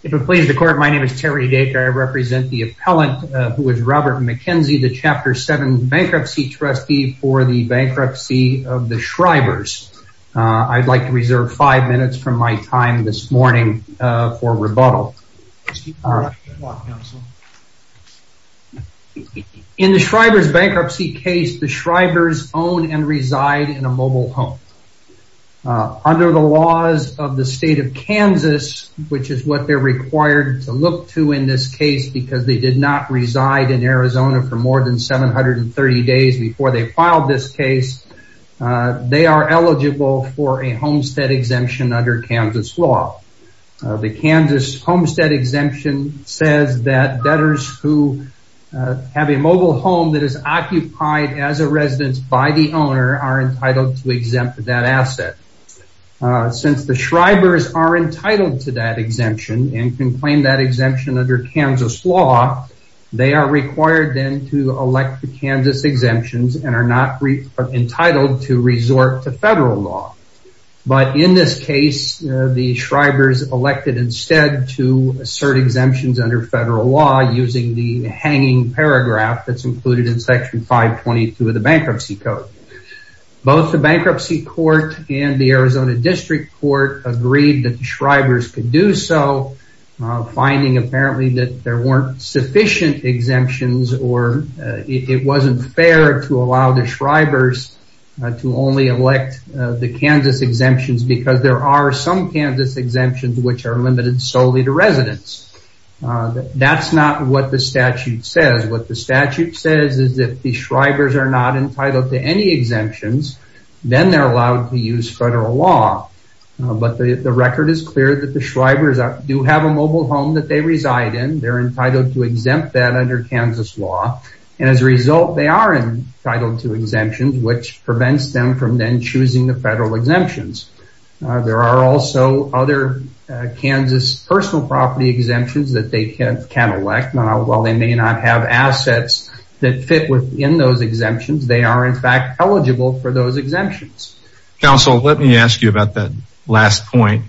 If it pleases the court, my name is Terry Dacre. I represent the appellant, who is Robert MacKenzie, the Chapter 7 bankruptcy trustee for the bankruptcy of the Schreiber's. I'd like to reserve five minutes from my time this morning for rebuttal. In the Schreiber's bankruptcy case, the Schreiber's own and reside in a mobile home. Under the laws of the state of Kansas, which is what they're required to look to in this case, because they did not reside in Arizona for more than 730 days before they filed this case, they are eligible for a homestead exemption under Kansas law. The Kansas homestead exemption says that debtors who have a mobile home that is occupied as a residence by the owner are entitled to exempt that asset. Since the Schreiber's are entitled to that exemption and can claim that exemption under Kansas law, they are required then to elect the Kansas exemptions and are not entitled to resort to federal law. But in this case, the Schreiber's elected instead to assert exemptions under federal law using the hanging paragraph that's included in section 522 of the bankruptcy code. Both the bankruptcy court and the Arizona district court agreed that the Schreiber's could do so, finding apparently that there weren't sufficient exemptions or it wasn't fair to allow the Schreiber's to only elect the Kansas exemptions because there are some Kansas exemptions which are limited solely to residents. That's not what the statute says. What the statute says is that the Schreiber's are not entitled to any exemptions, then they're allowed to use federal law. But the record is clear that the Schreiber's do have a mobile home that they reside in, they're entitled to exempt that under Kansas law. And as a result, they are entitled to exemptions, which prevents them from then choosing the federal exemptions. There are also other Kansas personal property exemptions that they can elect. While they may not have assets that fit within those exemptions, they are in fact eligible for those exemptions. Counsel, let me ask you about that last point.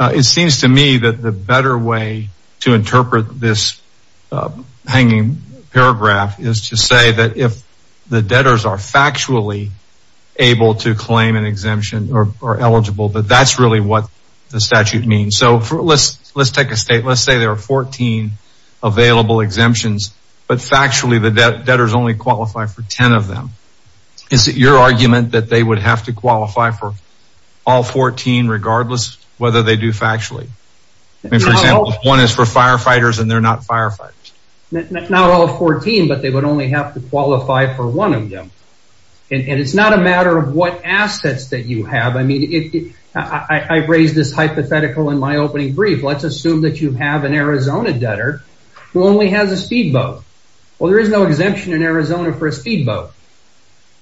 It seems to me that the better way to interpret this hanging paragraph is to say that if the debtors are factually able to claim an exemption or eligible, that that's really what the statute means. Let's take a state, let's say there are 14 available exemptions, but factually the debt debtors only qualify for 10 of them. Is it your argument that they would have to qualify for all 14 regardless whether they do factually? One is for firefighters and they're not firefighters. Not all 14, but they would only have to qualify for one of them. And it's not a matter of what assets that you have. I mean, I raised this hypothetical in my opening brief. Let's assume that you have an Arizona debtor who only has a speedboat. Well, there is no exemption in Arizona for a speedboat.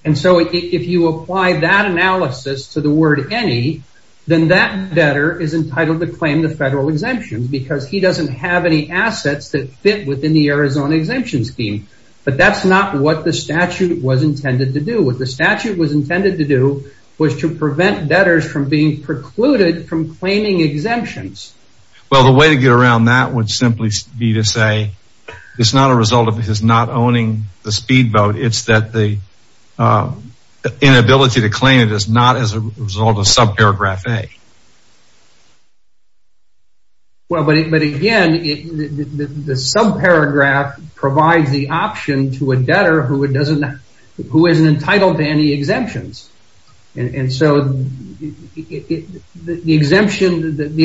And so if you apply that analysis to the word any, then that debtor is entitled to claim the federal exemptions because he doesn't have any assets that fit within the Arizona exemption scheme. But that's not what the statute was intended to do. What the statute was intended to do was to prevent debtors from being precluded from claiming exemptions. Well, the way to get around that would simply be to say it's not a result of his not owning the speedboat. It's that the inability to claim it is not as a result of subparagraph A. Well, but again, the subparagraph provides the option to a debtor who isn't entitled to any exemptions. And so the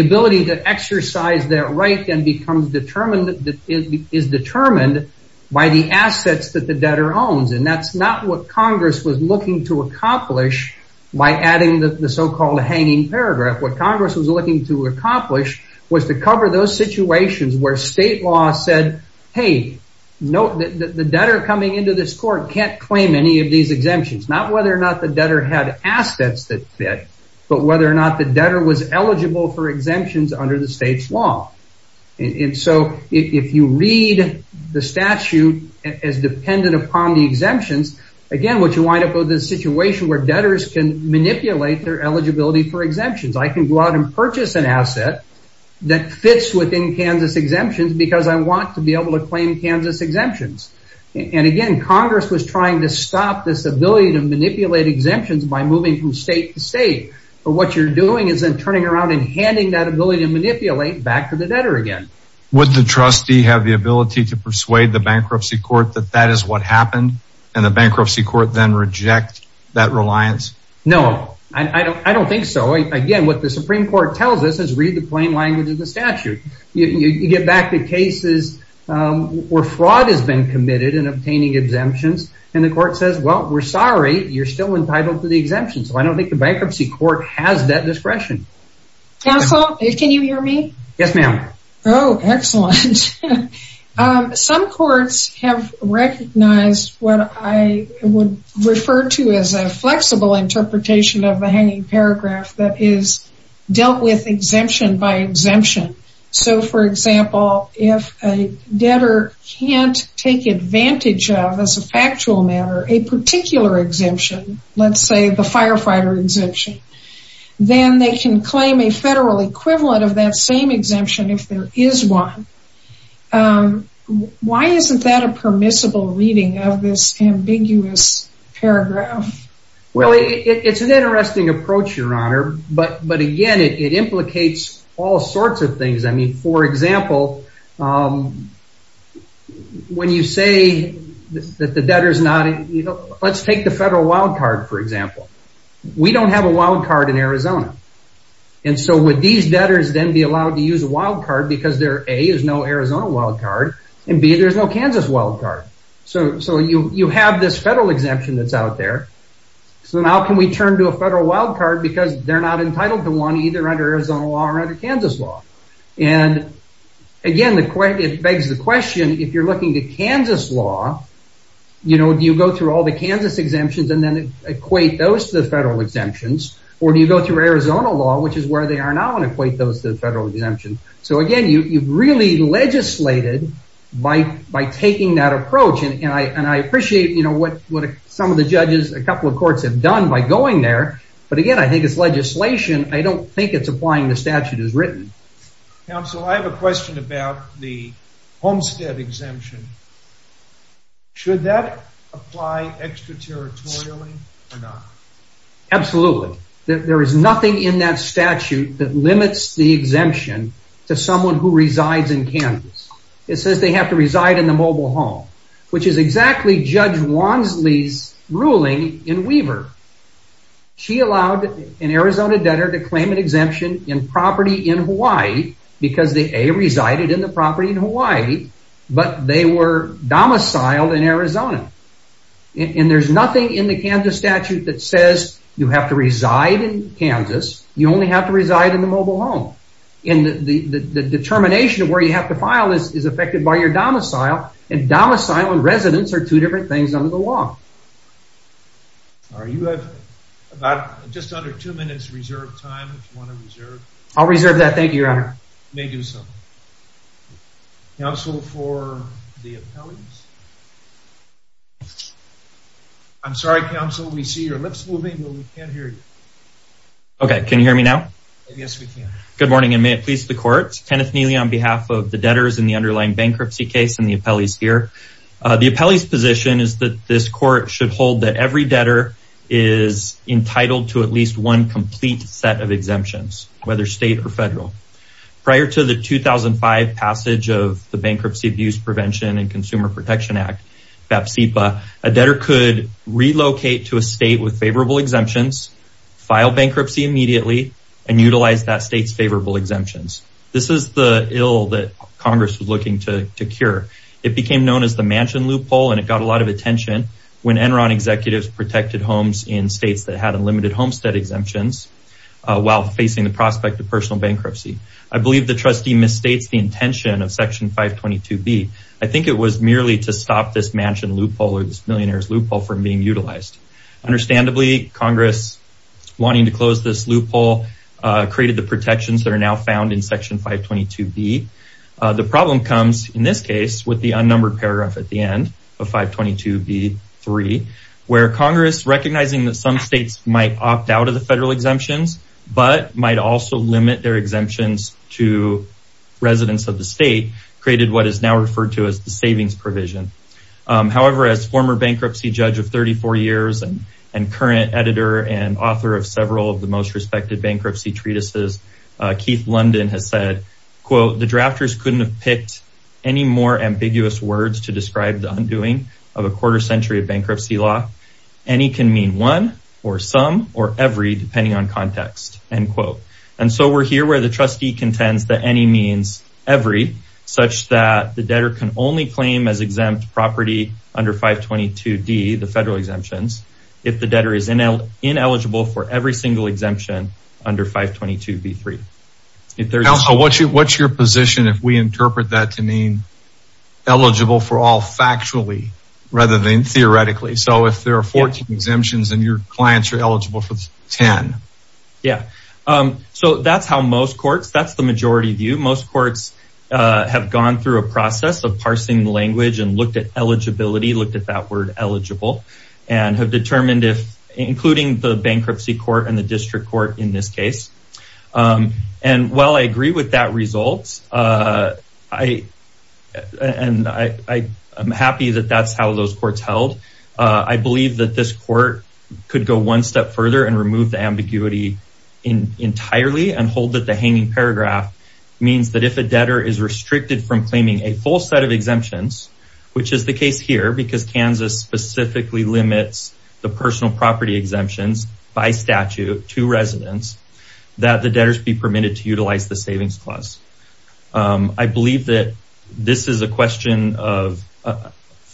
ability to exercise that right then is determined by the assets that the debtor owns. And that's not what Congress was looking to accomplish by adding the so-called hanging paragraph. What Congress was looking to accomplish was to cover those situations where state law said, hey, note that the debtor coming into this court can't claim any of these exemptions, not whether or not the debtor had assets that fit, but whether or not the debtor was eligible for exemptions under the state's law. And so if you read the statute as dependent upon the exemptions, again, what you wind up with is a situation where debtors can manipulate their eligibility for exemptions. I can go out and purchase an asset that fits within Kansas exemptions because I want to be able to claim Kansas exemptions. And again, Congress was trying to stop this ability to manipulate exemptions by moving from state to state. But what you're doing is then turning around and handing that ability to manipulate back to the debtor again. Would the trustee have the ability to persuade the bankruptcy court that that is what happened and the bankruptcy court then reject that reliance? No, I don't think so. Again, what the Supreme Court tells us is read the plain language of the statute. You get back to cases where fraud has been committed in obtaining exemptions and the court says, well, we're sorry, you're still entitled to the exemption. So I don't think the bankruptcy court has that discretion. Counsel, can you hear me? Yes, ma'am. Oh, excellent. Some courts have recognized what I would refer to as a flexible interpretation of the hanging paragraph that is dealt with exemption by exemption. So, for example, if a debtor can't take advantage of, as a factual matter, a particular exemption, let's say the firefighter exemption, then they can claim a federal equivalent of that same exemption if there is one. Why isn't that a permissible reading of this ambiguous paragraph? Well, it's an interesting approach, Your Honor. But again, it implicates all sorts of things. I mean, for example, when you say that the debtor is not, let's take the federal wildcard, for example. We don't have a wildcard in Arizona. And so would these debtors then be allowed to use a wildcard because there, A, is no Arizona wildcard, and B, there's no Kansas wildcard. So you have this federal exemption that's out there. So now can we turn to a federal wildcard because they're not entitled to one either under Arizona law or under Kansas law. And again, it begs the question, if you're looking at Kansas law, do you go through all the Kansas exemptions and then equate those to the federal exemptions? Or do you go through Arizona law, which is where they are now, and equate those to the federal exemption? So again, you've really legislated by taking that approach. And I appreciate what some of the judges, a couple of courts, have done by going there. But again, I think it's legislation. I don't think it's applying the statute as written. Counsel, I have a question about the homestead exemption. Should that apply extraterritorially or not? Absolutely. There is nothing in that statute that limits the exemption to someone who resides in Kansas. It says they have to reside in the mobile home, which is exactly Judge Wansley's ruling in Weaver. She allowed an Arizona debtor to claim an exemption in property in Hawaii because they, A, resided in the property in Hawaii, but they were domiciled in Arizona. And there's nothing in the Kansas statute that says you have to reside in Kansas. You only have to reside in the mobile home. And the determination of where you have to file is affected by your domicile. And domicile and residence are two different things under the law. You have just under two minutes reserved time if you want to reserve. I'll reserve that. Thank you, Your Honor. You may do so. Counsel for the appellees? I'm sorry, Counsel. We see your lips moving, but we can't hear you. Okay. Can you hear me now? Yes, we can. Good morning, and may it please the Court. Kenneth Neely on behalf of the debtors in the underlying bankruptcy case and the appellees here. The appellee's position is that this court should hold that every debtor is entitled to at least one complete set of exemptions, whether state or federal. Prior to the 2005 passage of the Bankruptcy Abuse Prevention and Consumer Protection Act, BAPSIPA, a debtor could relocate to a state with favorable exemptions, file bankruptcy immediately, and utilize that state's favorable exemptions. This is the ill that Congress was looking to cure. It became known as the mansion loophole, and it got a lot of attention when Enron executives protected homes in states that had unlimited homestead exemptions while facing the prospect of personal bankruptcy. I believe the trustee misstates the intention of Section 522B. I think it was merely to stop this mansion loophole or this millionaire's loophole from being utilized. Understandably, Congress, wanting to close this loophole, created the protections that are now found in Section 522B. The problem comes, in this case, with the unnumbered paragraph at the end of 522B3, where Congress, recognizing that some states might opt out of the federal exemptions but might also limit their exemptions to residents of the state, created what is now referred to as the savings provision. However, as former bankruptcy judge of 34 years and current editor and author of several of the most respected bankruptcy treatises, Keith London has said, quote, the drafters couldn't have picked any more ambiguous words to describe the undoing of a quarter century of bankruptcy law. Any can mean one or some or every, depending on context, end quote. And so we're here where the trustee contends that any means every, such that the debtor can only claim as exempt property under 522D, the federal exemptions, if the debtor is ineligible for every single exemption under 522B3. What's your position if we interpret that to mean eligible for all factually rather than theoretically? So if there are 14 exemptions and your clients are eligible for 10? Yeah. So that's how most courts, that's the majority view. Most courts have gone through a process of parsing language and looked at eligibility, looked at that word eligible, and have determined if, including the bankruptcy court and the district court in this case. And while I agree with that result, I am happy that that's how those courts held. I believe that this court could go one step further and remove the ambiguity in entirely and hold that the hanging paragraph means that if a debtor is restricted from claiming a full set of exemptions, which is the case here because Kansas specifically limits the personal property exemptions by statute to residents, that the debtors be permitted to utilize the savings clause. I believe that this is a question of,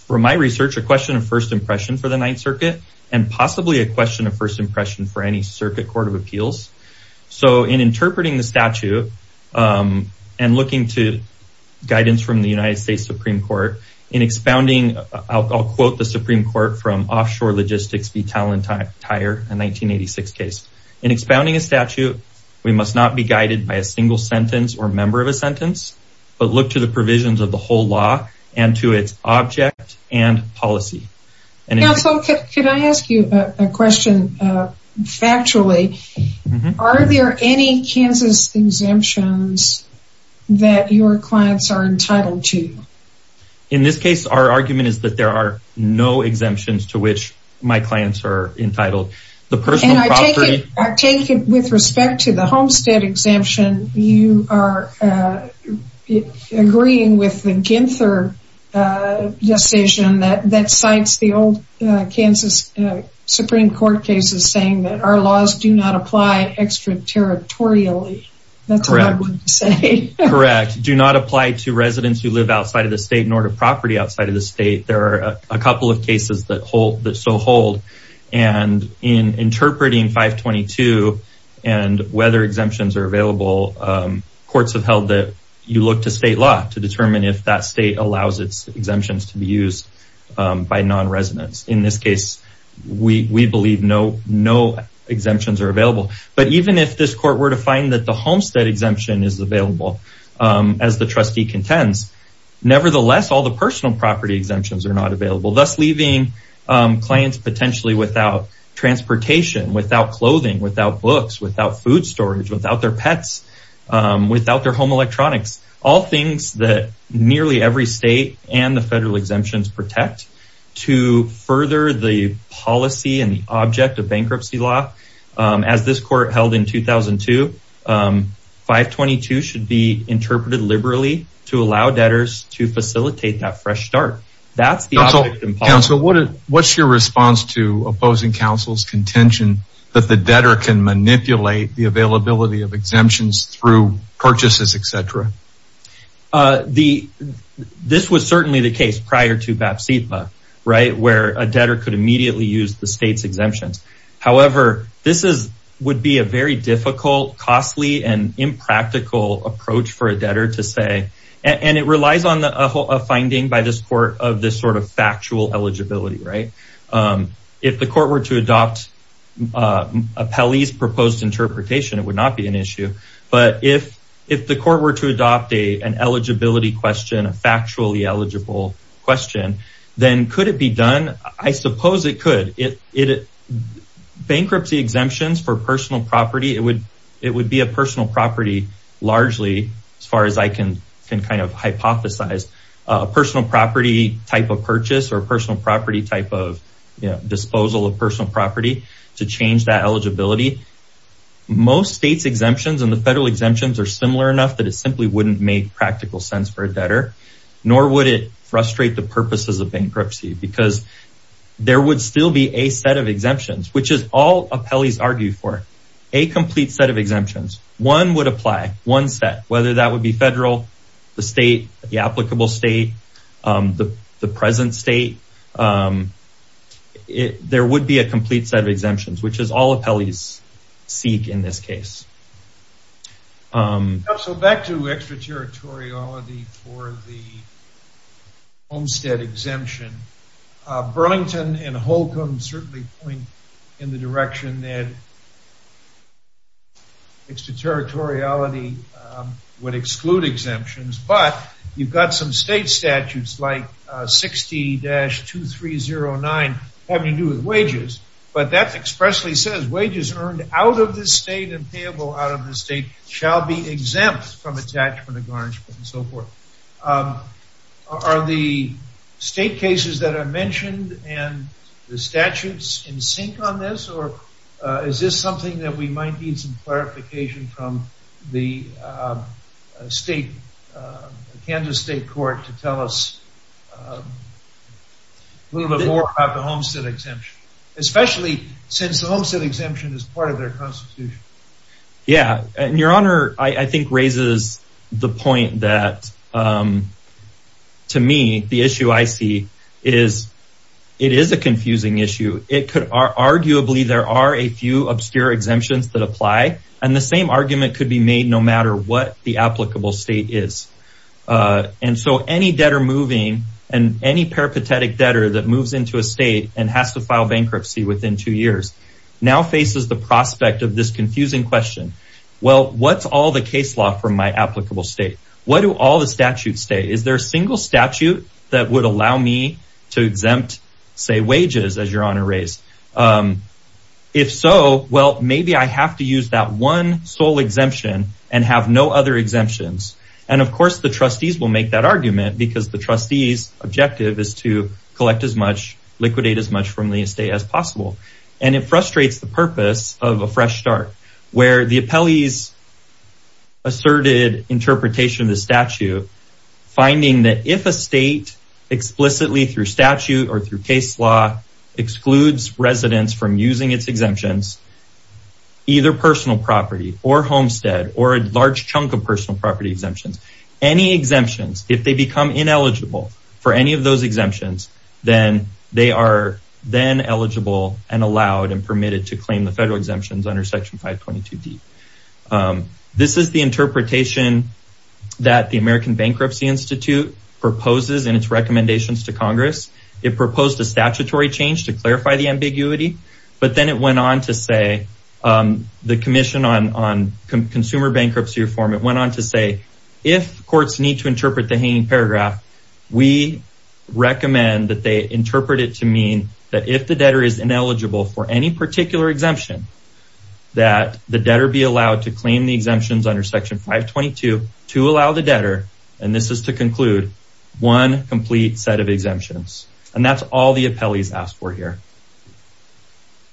from my research, a question of first impression for the Ninth Circuit and possibly a question of first impression for any circuit court of appeals. So in interpreting the statute and looking to guidance from the United States Supreme Court in expounding, I'll quote the Supreme Court from Offshore Logistics v. Tallentire, a 1986 case. In expounding a statute, we must not be guided by a single sentence or member of a sentence, but look to the provisions of the whole law and to its object and policy. Counsel, can I ask you a question factually? Are there any Kansas exemptions that your clients are entitled to? In this case, our argument is that there are no exemptions to which my clients are entitled. And I take it with respect to the Homestead exemption, you are agreeing with the Ginther decision that cites the old Kansas Supreme Court cases saying that our laws do not apply extraterritorially. That's what I would say. Correct. Do not apply to residents who live outside of the state nor to property outside of the state. There are a couple of cases that hold that so hold. And in interpreting 522 and whether exemptions are available, courts have held that you look to state law to determine if that state allows its exemptions to be used by non-residents. In this case, we believe no exemptions are available. But even if this court were to find that the Homestead exemption is available as the trustee contends, nevertheless, all the personal property exemptions are not available, thus leaving clients potentially without transportation, without clothing, without books, without food storage, without their pets, without their home electronics. All things that nearly every state and the federal exemptions protect to further the policy and the object of bankruptcy law. As this court held in 2002, 522 should be interpreted liberally to allow debtors to facilitate that fresh start. What's your response to opposing counsel's contention that the debtor can manipulate the availability of exemptions through purchases, etc.? This was certainly the case prior to BAPSIPA, right, where a debtor could immediately use the state's exemptions. However, this would be a very difficult, costly, and impractical approach for a debtor to say. And it relies on a finding by this court of this sort of factual eligibility, right? If the court were to adopt a Pelley's proposed interpretation, it would not be an issue. But if the court were to adopt an eligibility question, a factually eligible question, then could it be done? I suppose it could. Bankruptcy exemptions for personal property, it would be a personal property largely, as far as I can kind of hypothesize, a personal property type of purchase or personal property type of disposal of personal property to change that eligibility. Most states exemptions and the federal exemptions are similar enough that it simply wouldn't make practical sense for a debtor, nor would it frustrate the purposes of bankruptcy because there would still be a set of exemptions, which is all a Pelley's argue for a complete set of exemptions. One would apply, one set, whether that would be federal, the state, the applicable state, the present state, there would be a complete set of exemptions, which is all a Pelley's seek in this case. So back to extraterritoriality for the Homestead exemption. Burlington and Holcomb certainly point in the direction that extraterritoriality would exclude exemptions, but you've got some state statutes like 60-2309 having to do with wages. But that expressly says wages earned out of the state and payable out of the state shall be exempt from attachment of garnishment and so forth. Are the state cases that are mentioned and the statutes in sync on this, or is this something that we might need some clarification from the Kansas state court to tell us a little bit more about the Homestead exemption, especially since the Homestead exemption is part of their constitution? Yeah, and your honor, I think raises the point that to me, the issue I see is it is a confusing issue. It could arguably there are a few obscure exemptions that apply, and the same argument could be made no matter what the applicable state is. And so any debtor moving and any peripatetic debtor that moves into a state and has to file bankruptcy within two years now faces the prospect of this confusing question. Well, what's all the case law from my applicable state? What do all the statutes say? Is there a single statute that would allow me to exempt, say, wages as your honor raised? If so, well, maybe I have to use that one sole exemption and have no other exemptions. And of course, the trustees will make that argument because the trustees objective is to collect as much liquidate as much from the estate as possible. And it frustrates the purpose of a fresh start where the appellees asserted interpretation of the statute, finding that if a state explicitly through statute or through case law excludes residents from using its exemptions, either personal property or homestead or a large chunk of personal property exemptions, any exemptions. If they become ineligible for any of those exemptions, then they are then eligible and allowed and permitted to claim the federal exemptions under Section 522D. This is the interpretation that the American Bankruptcy Institute proposes in its recommendations to Congress. It proposed a statutory change to clarify the ambiguity. But then it went on to say the Commission on Consumer Bankruptcy Reform. It went on to say if courts need to interpret the hanging paragraph, we recommend that they interpret it to mean that if the debtor is ineligible for any particular exemption, that the debtor be allowed to claim the exemptions under Section 522 to allow the debtor. And this is to conclude one complete set of exemptions. And that's all the appellees asked for here.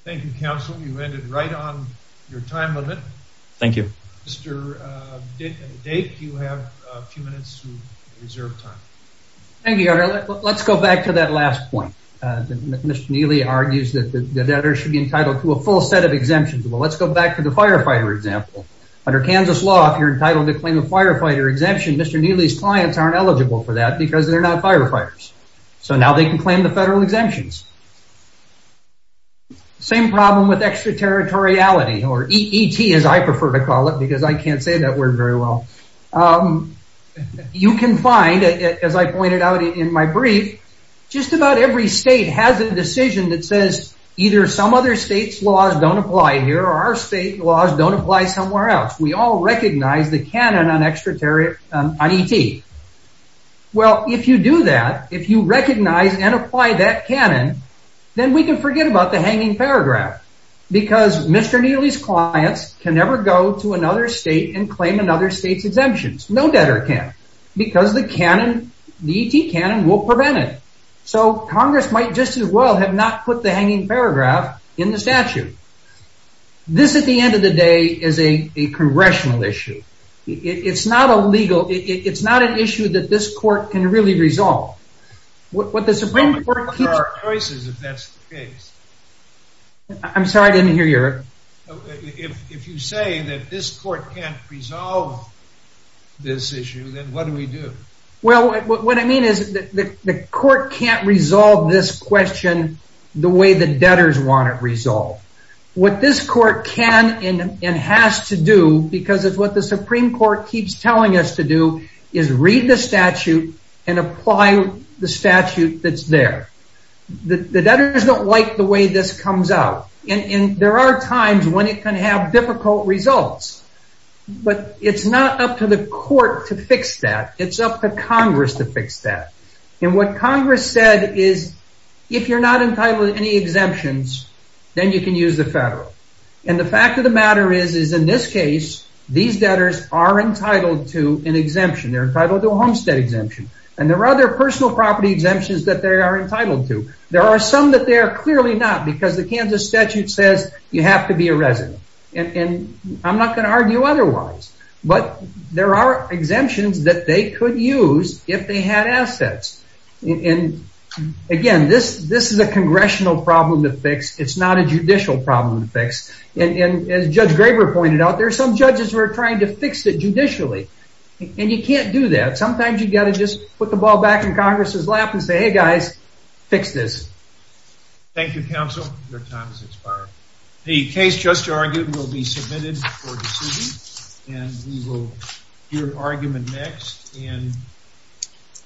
Thank you, counsel. You ended right on your time limit. Thank you. Mr. Dake, you have a few minutes to reserve time. Thank you, Your Honor. Let's go back to that last point. Mr. Neely argues that the debtor should be entitled to a full set of exemptions. Well, let's go back to the firefighter example. Under Kansas law, if you're entitled to claim a firefighter exemption, Mr. Neely's clients aren't eligible for that because they're not firefighters. So now they can claim the federal exemptions. Same problem with extraterritoriality, or ET as I prefer to call it because I can't say that word very well. You can find, as I pointed out in my brief, just about every state has a decision that says either some other state's laws don't apply here or our state laws don't apply somewhere else. We all recognize the canon on ET. Well, if you do that, if you recognize and apply that canon, then we can forget about the hanging paragraph because Mr. Neely's clients can never go to another state and claim another state's exemptions. No debtor can because the ET canon will prevent it. So Congress might just as well have not put the hanging paragraph in the statute. This, at the end of the day, is a congressional issue. It's not a legal, it's not an issue that this court can really resolve. What the Supreme Court can... There are choices if that's the case. I'm sorry, I didn't hear you. If you say that this court can't resolve this issue, then what do we do? Well, what I mean is the court can't resolve this question the way the debtors want it resolved. What this court can and has to do, because it's what the Supreme Court keeps telling us to do, is read the statute and apply the statute that's there. The debtors don't like the way this comes out. And there are times when it can have difficult results. But it's not up to the court to fix that. It's up to Congress to fix that. And what Congress said is, if you're not entitled to any exemptions, then you can use the federal. And the fact of the matter is, is in this case, these debtors are entitled to an exemption. They're entitled to a homestead exemption. And there are other personal property exemptions that they are entitled to. There are some that they are clearly not, because the Kansas statute says you have to be a resident. And I'm not going to argue otherwise. But there are exemptions that they could use if they had assets. And again, this is a congressional problem to fix. It's not a judicial problem to fix. And as Judge Graber pointed out, there are some judges who are trying to fix it judicially. And you can't do that. Sometimes you've got to just put the ball back in Congress's lap and say, hey, guys, fix this. Thank you, counsel. Your time has expired. The case just argued will be submitted for decision. And we will hear argument next.